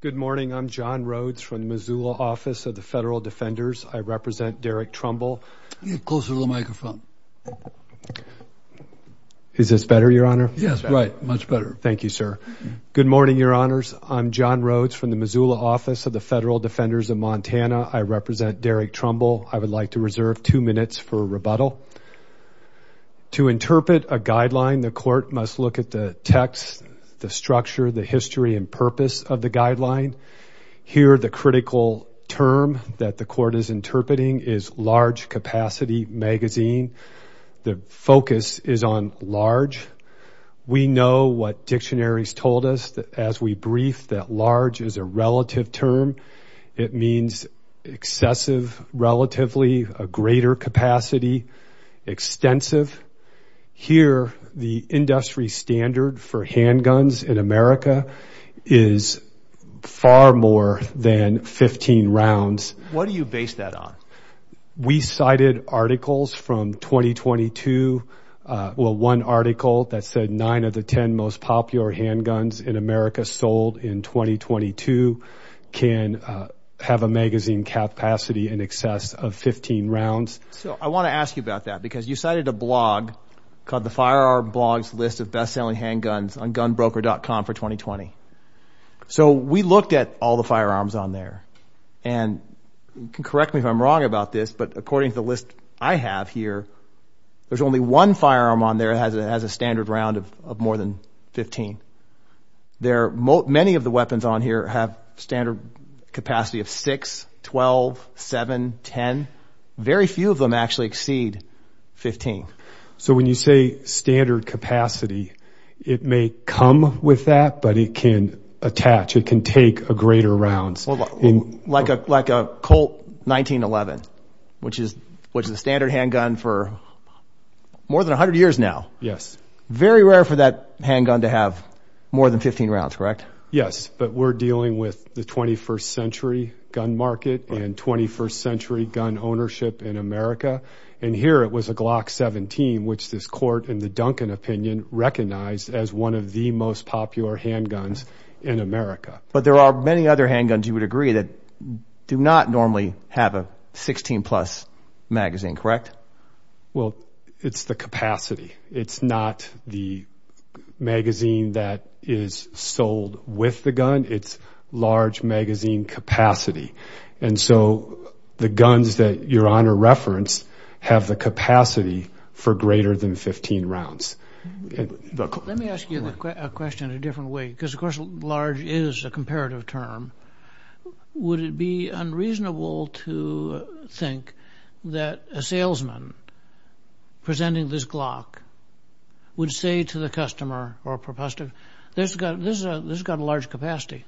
Good morning, I'm John Rhodes from the Missoula Office of the Federal Defenders. I represent Derek Trumbull. Get closer to the microphone. Is this better, your honor? Yes, right, much better. Thank you, sir. Good morning, your honors. I'm John Rhodes from the Missoula Office of the Federal Defenders of Montana. I represent Derek Trumbull. I would like to reserve two minutes for rebuttal. To interpret a guideline, the court must look at the text, the structure, the history, and purpose of the guideline. Here, the critical term that the court is interpreting is large capacity magazine. The focus is on large. We know what dictionaries told us that as we brief that large is a relative term, it means excessive, relatively, a greater capacity, extensive. Here, the industry standard for handguns in America is far more than 15 rounds. What do you base that on? We cited articles from 2022, well, one article that said nine of the 10 most popular handguns in America sold in 2022 can have a magazine capacity in excess of 15 rounds. So, I want to ask you about that because you cited a blog called the Firearm Blog's List of Best-Selling Handguns on GunBroker.com for 2020. So, we looked at all the firearms on there, and you can correct me if I'm wrong about this, but according to the list I have here, there's only one firearm on there that has a standard round of more than 15. There are many of the weapons on here have standard capacity of 6, 12, 7, 10. Very few of them actually exceed 15. So, when you say standard capacity, it may come with that, but it can attach, it can take a greater rounds. Like a Colt 1911, which is a standard handgun for more than 100 years now. Yes. Very rare for that handgun to have more than 15 rounds, correct? Yes, but we're dealing with the 21st century gun market and 21st century gun ownership in America. And here it was a Glock 17, which this court in the Duncan opinion recognized as one of the most popular handguns in America. But there are many other handguns you would agree that do not normally have a 16 plus magazine, correct? Well, it's the capacity. It's not the magazine that is sold with the gun, it's large magazine capacity. And so, the guns that your honor referenced have the capacity for greater than 15 rounds. Let me ask you a question a different way, because of course large is a comparative term. Would it be unreasonable to think that a salesman presenting this Glock would say to the customer or propositor, this has got a large capacity?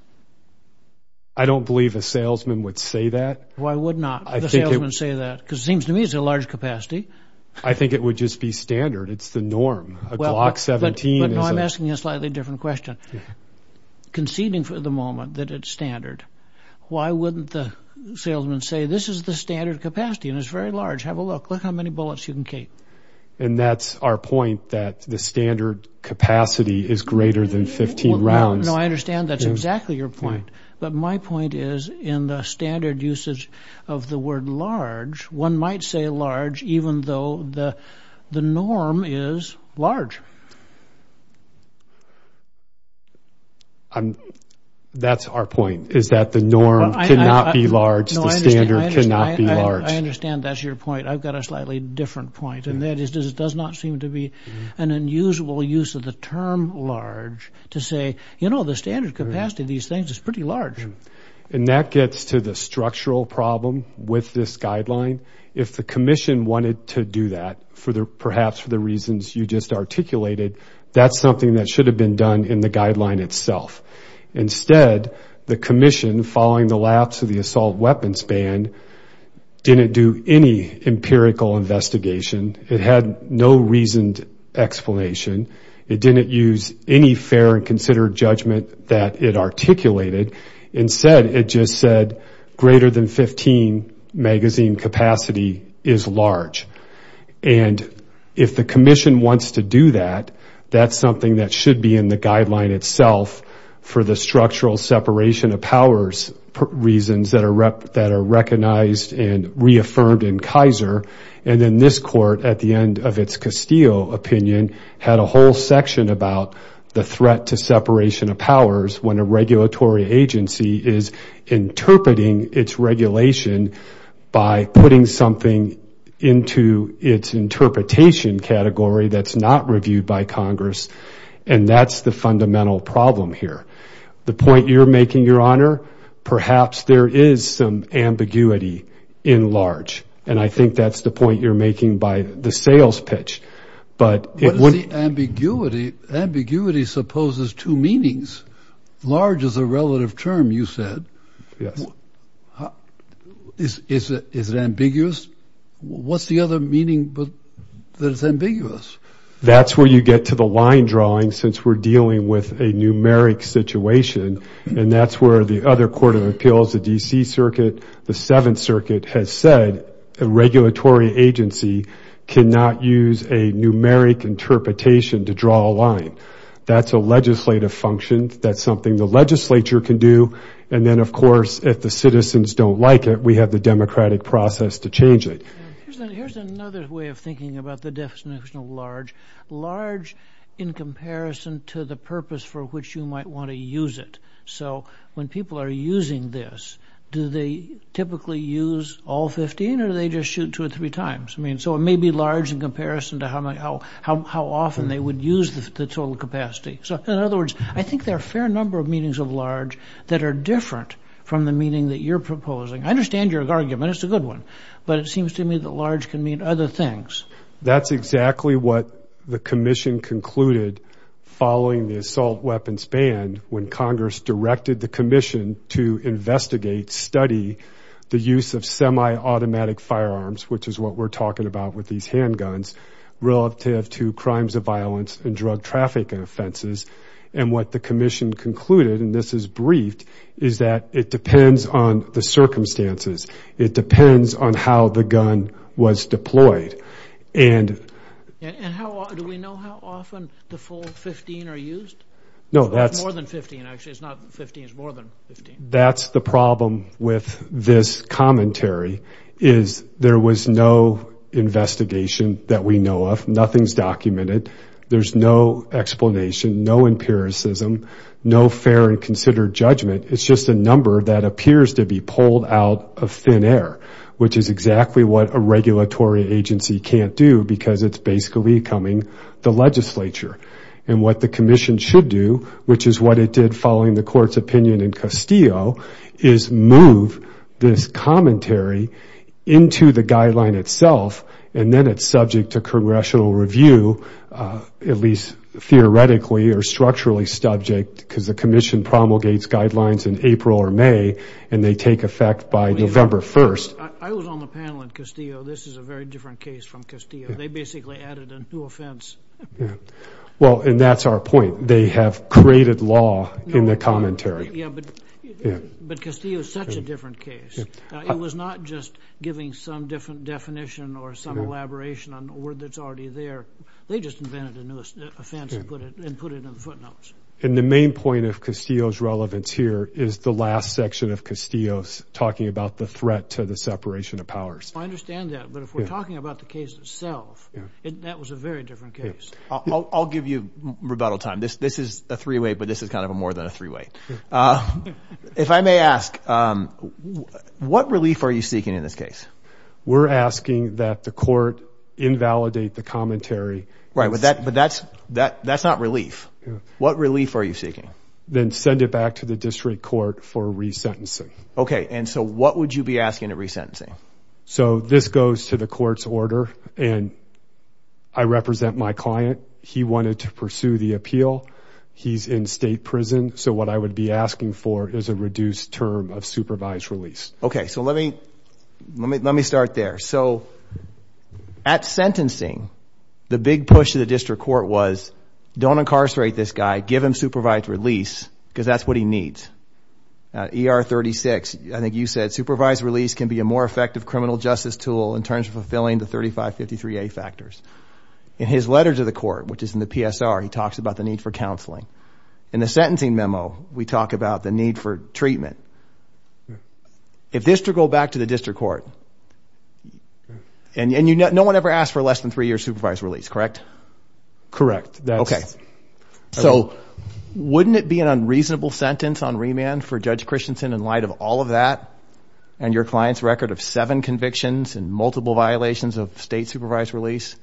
I don't believe a salesman would say that. Why would not a salesman say that? Because it seems to me it's a large capacity. I think it would just be standard. It's the norm. A Glock 17 is a... conceding for the moment that it's standard. Why wouldn't the salesman say this is the standard capacity and it's very large. Have a look. Look how many bullets you can keep. And that's our point that the standard capacity is greater than 15 rounds. No, I understand that's exactly your point. But my point is in the standard usage of the word large, one might say large even though the norm is large. That's our point, is that the norm cannot be large, the standard cannot be large. I understand that's your point. I've got a slightly different point and that is it does not seem to be an unusual use of the term large to say, you know, the standard capacity of these things is pretty large. And that gets to the structural problem with this guideline. If the perhaps for the reasons you just articulated, that's something that should have been done in the guideline itself. Instead, the commission following the lapse of the assault weapons ban didn't do any empirical investigation. It had no reasoned explanation. It didn't use any fair and considered judgment that it articulated. Instead, it just said greater than 15 magazine capacity is large. And if the commission wants to do that, that's something that should be in the guideline itself for the structural separation of powers reasons that are recognized and reaffirmed in Kaiser. And then this court at the end of its Castillo opinion had a whole section about the threat to separation of powers when a regulatory agency is interpreting its regulation by putting something into its interpretation category that's not reviewed by Congress. And that's the fundamental problem here. The point you're making your honor, perhaps there is some ambiguity in large. And I think that's the point you're making by the sales pitch. But ambiguity supposes two meanings. Large is a relative term, you said. Yes. Is it ambiguous? What's the other meaning that is ambiguous? That's where you get to the line drawing since we're dealing with a numeric situation. And that's where the other Court of Appeals, the D.C. Circuit, the Seventh Circuit has said a regulatory agency cannot use a numeric interpretation to draw a line. That's a legislative function. That's something the legislature can do. And then, of course, if the citizens don't like it, we have the democratic process to change it. Here's another way of thinking about the definition of large. Large in comparison to the purpose for which you might want to use it. So when people are using this, do they typically use all 15 or do they just shoot two or three times? I mean, so it may be large in comparison to how often they would use the total capacity. So in other words, I think there are a fair number of meanings of large that are different from the meaning that you're proposing. I understand your argument. It's a good one. But it seems to me that large can mean other things. That's exactly what the commission concluded following the assault weapons ban when Congress directed the commission to investigate, study the use of semi-automatic firearms, which is what we're talking about with these handguns relative to crimes of violence and drug traffic offenses. And what the commission concluded, and this is briefed, is that it depends on the circumstances. It depends on how the gun was deployed. And how do we know how often the full 15 are used? No, that's more than 15. Actually, it's not 15. It's more than 15. That's the problem with this commentary is there was no investigation that we know of. Nothing's documented. There's no explanation, no empiricism, no fair and considered judgment. It's just a number that appears to be pulled out of thin air, which is exactly what a regulatory agency can't do because it's basically becoming the legislature. And what the commission should do, which is what it did following the court's opinion in Castillo, is move this commentary into the guideline itself. And then it's subject to congressional review, at least theoretically or structurally subject because the commission promulgates guidelines in April or May, and they take effect by November 1st. I was on the panel in Castillo. This is a very different case from Castillo. They basically added a new offense. Yeah. Well, and that's our point. They have created law in the commentary. Yeah. But Castillo is such a different case. It was not just giving some different definition or some elaboration on a word that's already there. They just invented a new offense and put it in footnotes. And the main point of Castillo's relevance here is the last section of Castillo's talking about the threat to the separation of powers. I understand that. But if we're talking about the case itself, that was a very different case. I'll give you rebuttal time. This is a three-way, but this is kind of a more than a three-way. If I may ask, what relief are you seeking in this case? We're asking that the court invalidate the commentary. Right. But that's not relief. What relief are you seeking? Then send it back to the district court for resentencing. Okay. And so what would you be asking to resentencing? So this goes to the court's order and I represent my client. He wanted to pursue the appeal. He's in state prison. So what I would be asking for is a reduced term of supervised release. Okay. So let me start there. So at sentencing, the big push to the district court was don't incarcerate this guy, give him supervised release because that's what he needs. ER 36, I think you said supervised release can be a more effective criminal justice tool in terms of fulfilling the 3553A factors. In his letter to the court, which is in the PSR, he talks about the need for counseling. In the sentencing memo, we talk about the need for treatment. If this to go back to the district court and no one ever asked for less than three years supervised release, correct? Correct. Okay. So wouldn't it be an unreasonable sentence on remand for Judge Christensen in light of all of that and your client's record of seven convictions and multiple violations of state supervised release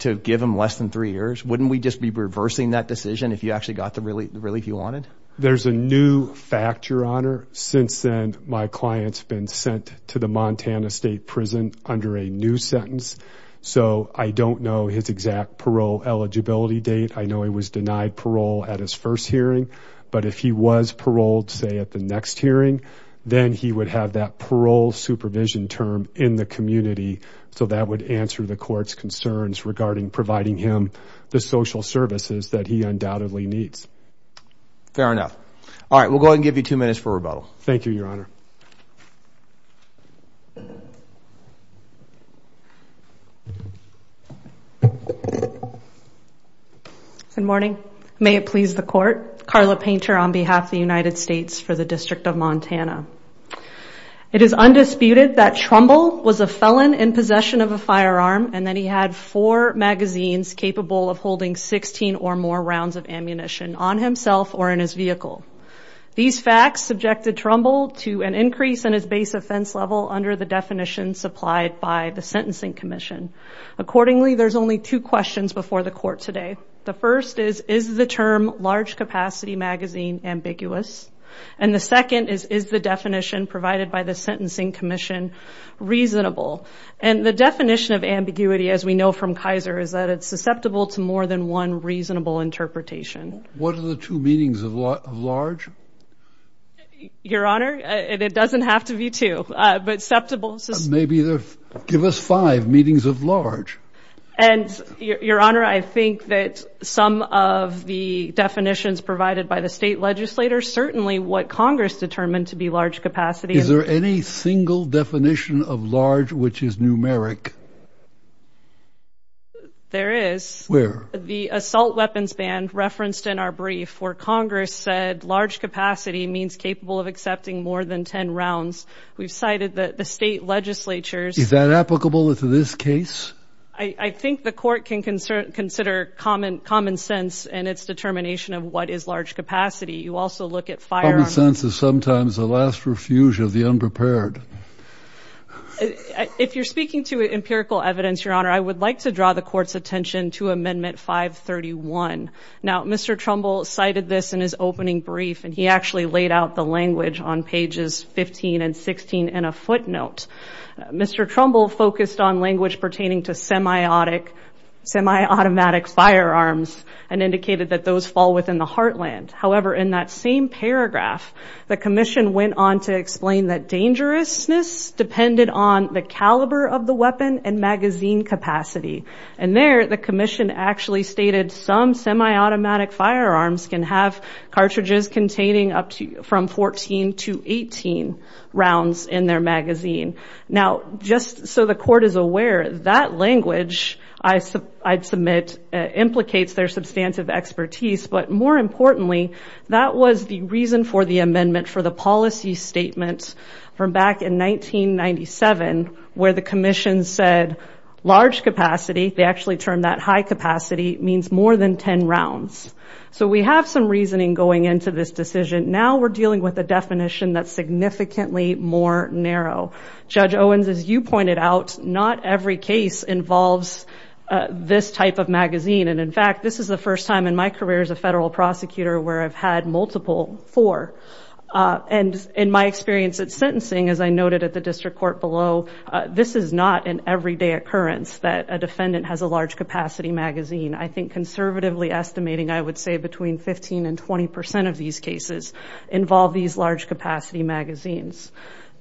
to give him less than three years? Wouldn't we just be reversing that decision if you actually got the relief you wanted? There's a new fact, your honor. Since then, my client's been sent to the Montana state prison under a new sentence. So I don't know his exact eligibility date. I know he was denied parole at his first hearing, but if he was paroled, say at the next hearing, then he would have that parole supervision term in the community. So that would answer the court's concerns regarding providing him the social services that he undoubtedly needs. Fair enough. All right. We'll go ahead and give you two minutes for rebuttal. Thank you, your honor. Good morning. May it please the court. Carla Painter on behalf of the United States for the District of Montana. It is undisputed that Trumbull was a felon in possession of a firearm and that he had four magazines capable of holding 16 or more rounds of ammunition on himself or in his vehicle. These facts subjected Trumbull to an increase in his base offense level under the definition supplied by the Sentencing Commission. Accordingly, there's only two questions before the court today. The first is, is the term large capacity magazine ambiguous? And the second is, is the definition provided by the Sentencing Commission reasonable? And the definition of ambiguity, as we know from Kaiser, is that it's susceptible to more than one reasonable interpretation. What are the two meanings of large? Your honor, it doesn't have to be two, but susceptible. Maybe give us five meetings of large. And your honor, I think that some of the definitions provided by the state legislators, certainly what Congress determined to be large capacity. Is there any single definition of large, which is numeric? There is. Where? The assault weapons ban referenced in our brief, where Congress said large capacity means capable of accepting more than 10 rounds. We've cited that the state legislatures. Is that applicable to this case? I think the court can consider common sense and its determination of what is large capacity. You also look at firearms. Common sense is sometimes the last refuge of the evidence. Your honor, I would like to draw the court's attention to Amendment 531. Now, Mr. Trumbull cited this in his opening brief, and he actually laid out the language on pages 15 and 16 in a footnote. Mr. Trumbull focused on language pertaining to semi-automatic firearms and indicated that those fall within the heartland. However, in that same paragraph, the commission went on to explain that dangerousness depended on the caliber of the weapon and magazine capacity. And there, the commission actually stated some semi-automatic firearms can have cartridges containing up to from 14 to 18 rounds in their magazine. Now, just so the court is aware, that language I'd submit implicates their substantive expertise. But more importantly, that was the reason for the amendment for the policy statement from back in 1997, where the commission said large capacity, they actually termed that high capacity, means more than 10 rounds. So we have some reasoning going into this decision. Now we're dealing with a definition that's significantly more narrow. Judge Owens, as you pointed out, not every case involves this type of magazine. And in fact, this is the first time in my career as a federal prosecutor where I've had multiple, four. And in my experience at sentencing, as I noted at the district court below, this is not an everyday occurrence that a defendant has a large capacity magazine. I think conservatively estimating, I would say between 15 and 20 percent of these cases involve these large capacity magazines.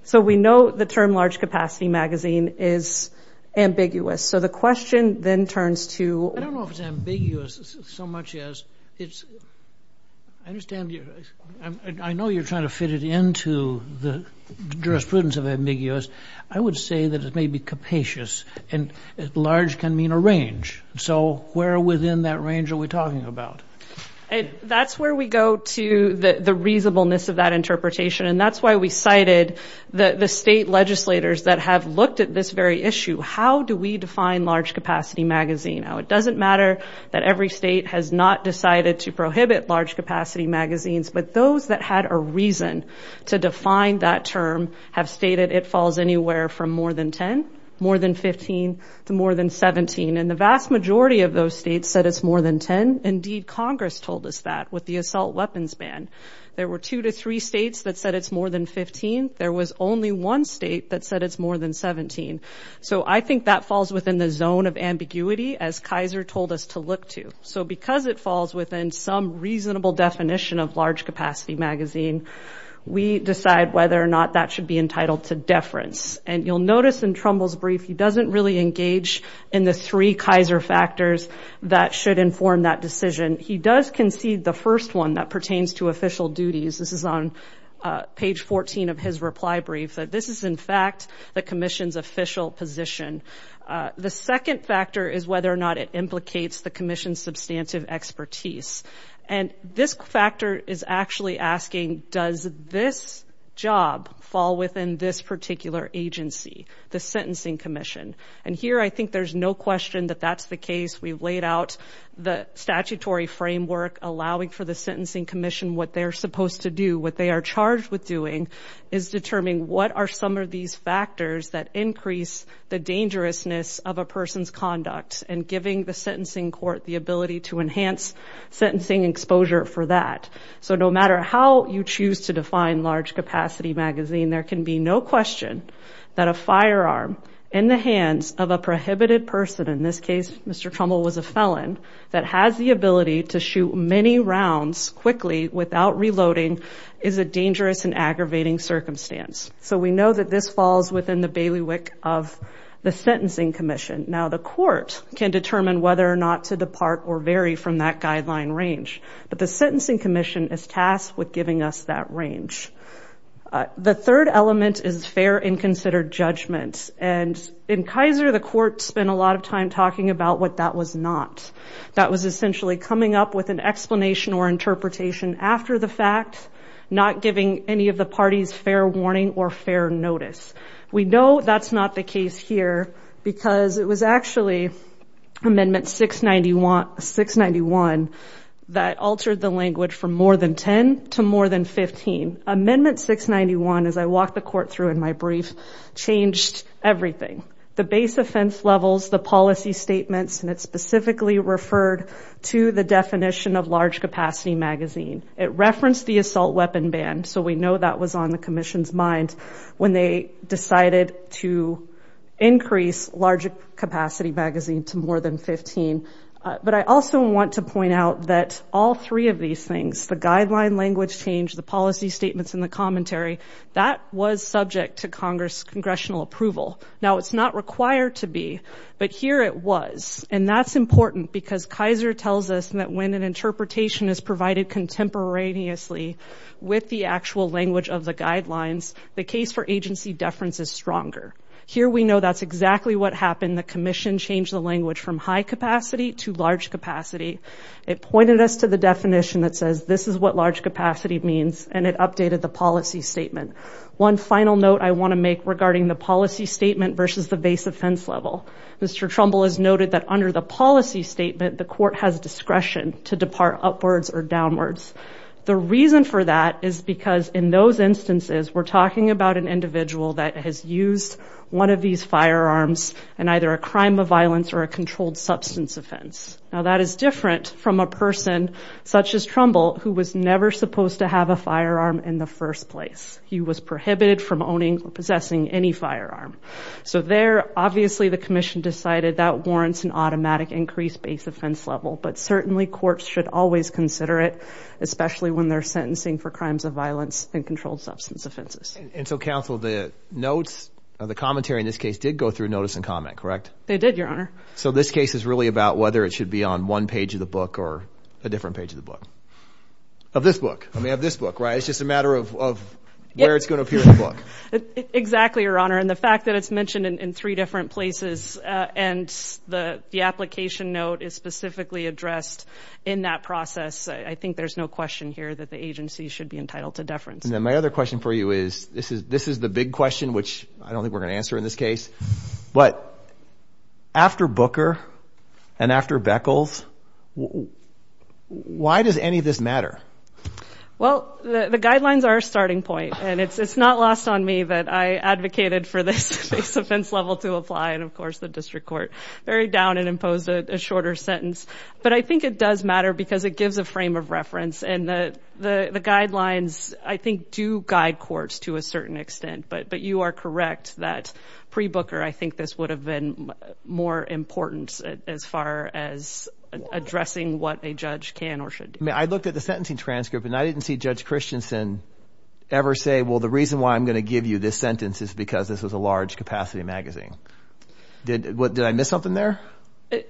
So we know the term large capacity magazine is ambiguous. So the question then turns to... I don't know if it's ambiguous so much as it's... I understand you're... I know you're trying to fit it into the jurisprudence of ambiguous. I would say that it may be capacious and large can mean a range. So where within that range are we talking about? That's where we go to the reasonableness of that interpretation. And that's why we cited the state legislators that have looked at this very issue. How do we define large capacity magazine? Now, it doesn't matter that every state has not decided to prohibit large capacity magazines, but those that had a reason to define that term have stated it falls anywhere from more than 10, more than 15, to more than 17. And the vast majority of those states said it's more than 10. Indeed, Congress told us that with the assault weapons ban. There were two to three states that said it's more than 15. There was only one state that said it's more than 17. So I think that falls within the zone of ambiguity as Kaiser told us to look to. So because it falls within some reasonable definition of large capacity magazine, we decide whether or not that should be entitled to deference. And you'll notice in Trumbull's brief, he doesn't really engage in the three Kaiser factors that should inform that decision. He does concede the first one that pertains to page 14 of his reply brief, that this is in fact the commission's official position. The second factor is whether or not it implicates the commission's substantive expertise. And this factor is actually asking, does this job fall within this particular agency, the Sentencing Commission? And here, I think there's no question that that's the case. We've laid out the statutory framework allowing for the Sentencing Commission what they're supposed to do, what they are charged with doing is determining what are some of these factors that increase the dangerousness of a person's conduct and giving the sentencing court the ability to enhance sentencing exposure for that. So no matter how you choose to define large capacity magazine, there can be no question that a firearm in the hands of a prohibited person, in this case, Mr. Trumbull was a felon, that has the ability to shoot many rounds quickly without reloading is a dangerous and aggravating circumstance. So we know that this falls within the bailiwick of the Sentencing Commission. Now the court can determine whether or not to depart or vary from that guideline range, but the Sentencing Commission is tasked with giving us that range. The third element is fair and considered judgment. And in Kaiser, the court spent a lot of time talking about what that was not. That was essentially coming up with an explanation or interpretation after the fact, not giving any of the parties fair warning or fair notice. We know that's not the case here because it was actually Amendment 691 that altered the language from more than 10 to more than 15. Amendment 691, as I walked the court through in my brief, changed everything. The base offense levels, the policy statements, and it specifically referred to the definition of large capacity magazine. It referenced the assault weapon ban, so we know that was on the Commission's mind when they decided to increase large capacity magazine to more than 15. But I also want to point out that all three of these things, the guideline language change, the policy statements, and the commentary, that was subject to Congress congressional approval. Now it's not required to be, but here it was. And that's important because Kaiser tells us that when an interpretation is provided contemporaneously with the actual language of the guidelines, the case for agency deference is stronger. Here we know that's exactly what happened. The Commission changed the language from high capacity to large capacity. It pointed us to the definition that says this is what large capacity means, and it updated the policy statement. One final note I want to make regarding the policy statement versus the base offense level. Mr. Trumbull has noted that under the policy statement, the court has discretion to depart upwards or downwards. The reason for that is because in those instances, we're talking about an individual that has used one of these firearms in either a crime of violence or a controlled substance offense. Now that is different from a person such as Trumbull who was never supposed to have a firearm in the first place. He was prohibited from owning or possessing any firearm. So there obviously the Commission decided that warrants an automatic increase base offense level, but certainly courts should always consider it, especially when they're sentencing for crimes of violence and controlled substance offenses. And so counsel, the notes of the commentary in this case did go through notice and comment, correct? They did, your honor. So this case is really about whether it should be on one page of the book or a different page of the book. Of this book. I mean of this book, right? It's just a matter of where it's going to appear in the book. Exactly, your honor. And the fact that it's mentioned in three different places and the application note is specifically addressed in that process. I think there's no question here that the agency should be entitled to deference. And then my other question for you is, this is the big question, which I don't think we're going to answer in this case, but after Booker and after Beckles, why does any of this matter? Well, the guidelines are a starting point and it's not lost on me that I advocated for this base offense level to apply. And of course the district court very down and imposed a shorter sentence. But I think it does matter because it gives a frame of reference and the guidelines I think do guide courts to a certain extent, but you are correct that pre Booker, I think this would have been more important as far as addressing what a judge can or should do. I mean, I looked at the sentencing transcript and I didn't see Judge Christensen ever say, well, the reason why I'm going to give you this sentence is because this was a large capacity magazine. Did I miss something there?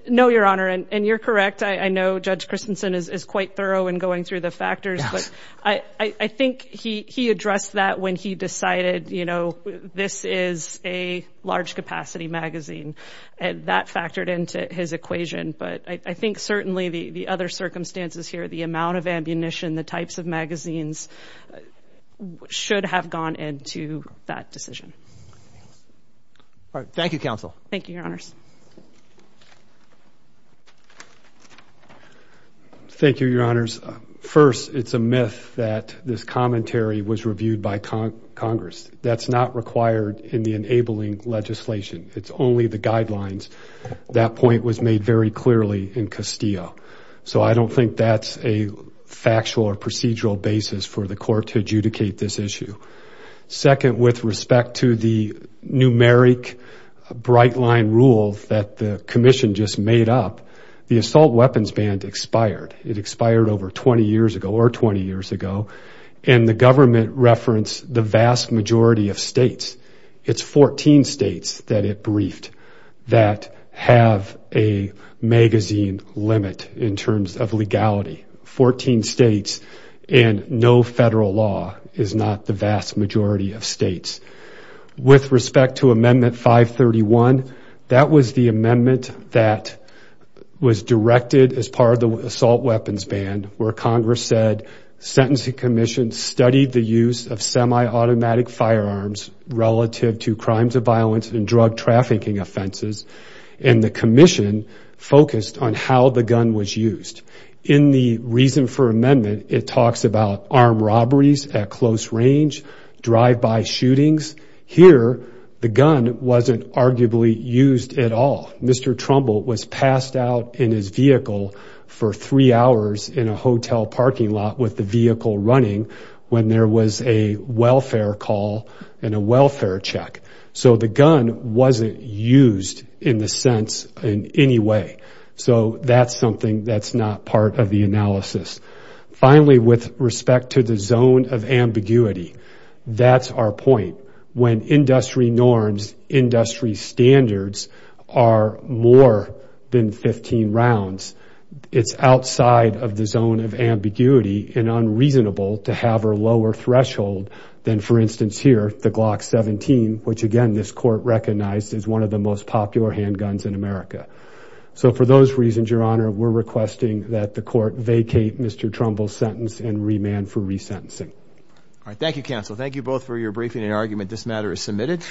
No, your honor. And you're correct. I know Judge Christensen is quite thorough in going through the factors, but I think he addressed that when he decided this is a large capacity magazine and that factored into his equation. But I think certainly the other circumstances here, the amount of ammunition, the types of magazines should have gone into that decision. All right. Thank you, counsel. Thank you, your honors. Thank you, your honors. First, it's a myth that this commentary was reviewed by Congress. That's not required in the enabling legislation. It's only the guidelines. That point was made very clearly in Castillo. So I don't think that's a factual or procedural basis for the court to adjudicate this issue. Second, with respect to the numeric bright line rule that the commission just made up, the assault weapons ban expired. It expired over 20 years ago or 20 years ago. And the government referenced the vast majority of states. It's 14 states that it briefed that have a magazine limit in terms of legality. 14 states and no federal law is not the vast majority of states. With respect to amendment 531, that was the amendment that was directed as part of the assault weapons ban where Congress said sentencing commission studied the use of semi-automatic firearms relative to crimes of violence and drug trafficking offenses and the commission focused on how the gun was used. In the reason for amendment, it talks about armed robberies at close range, drive-by shootings. Here, the gun wasn't arguably used at all. Mr. Trumbull was passed out in his vehicle for three hours in a hotel parking lot with the vehicle running when there was a welfare call and a welfare check. So the gun wasn't used in the sense in any way. So that's something that's not part of the analysis. Finally, with respect to the zone of ambiguity, that's our point. When industry norms, industry standards are more than 15 rounds, it's outside of the zone of ambiguity and unreasonable to have a lower threshold than, for instance, here, the Glock 17, which again, this court recognized is one of the most popular handguns in America. So for those reasons, your honor, we're requesting that the court vacate Mr. Trumbull's sentence and remand for resentencing. All right. Thank you, counsel. Thank you both for your briefing and argument. This matter is submitted.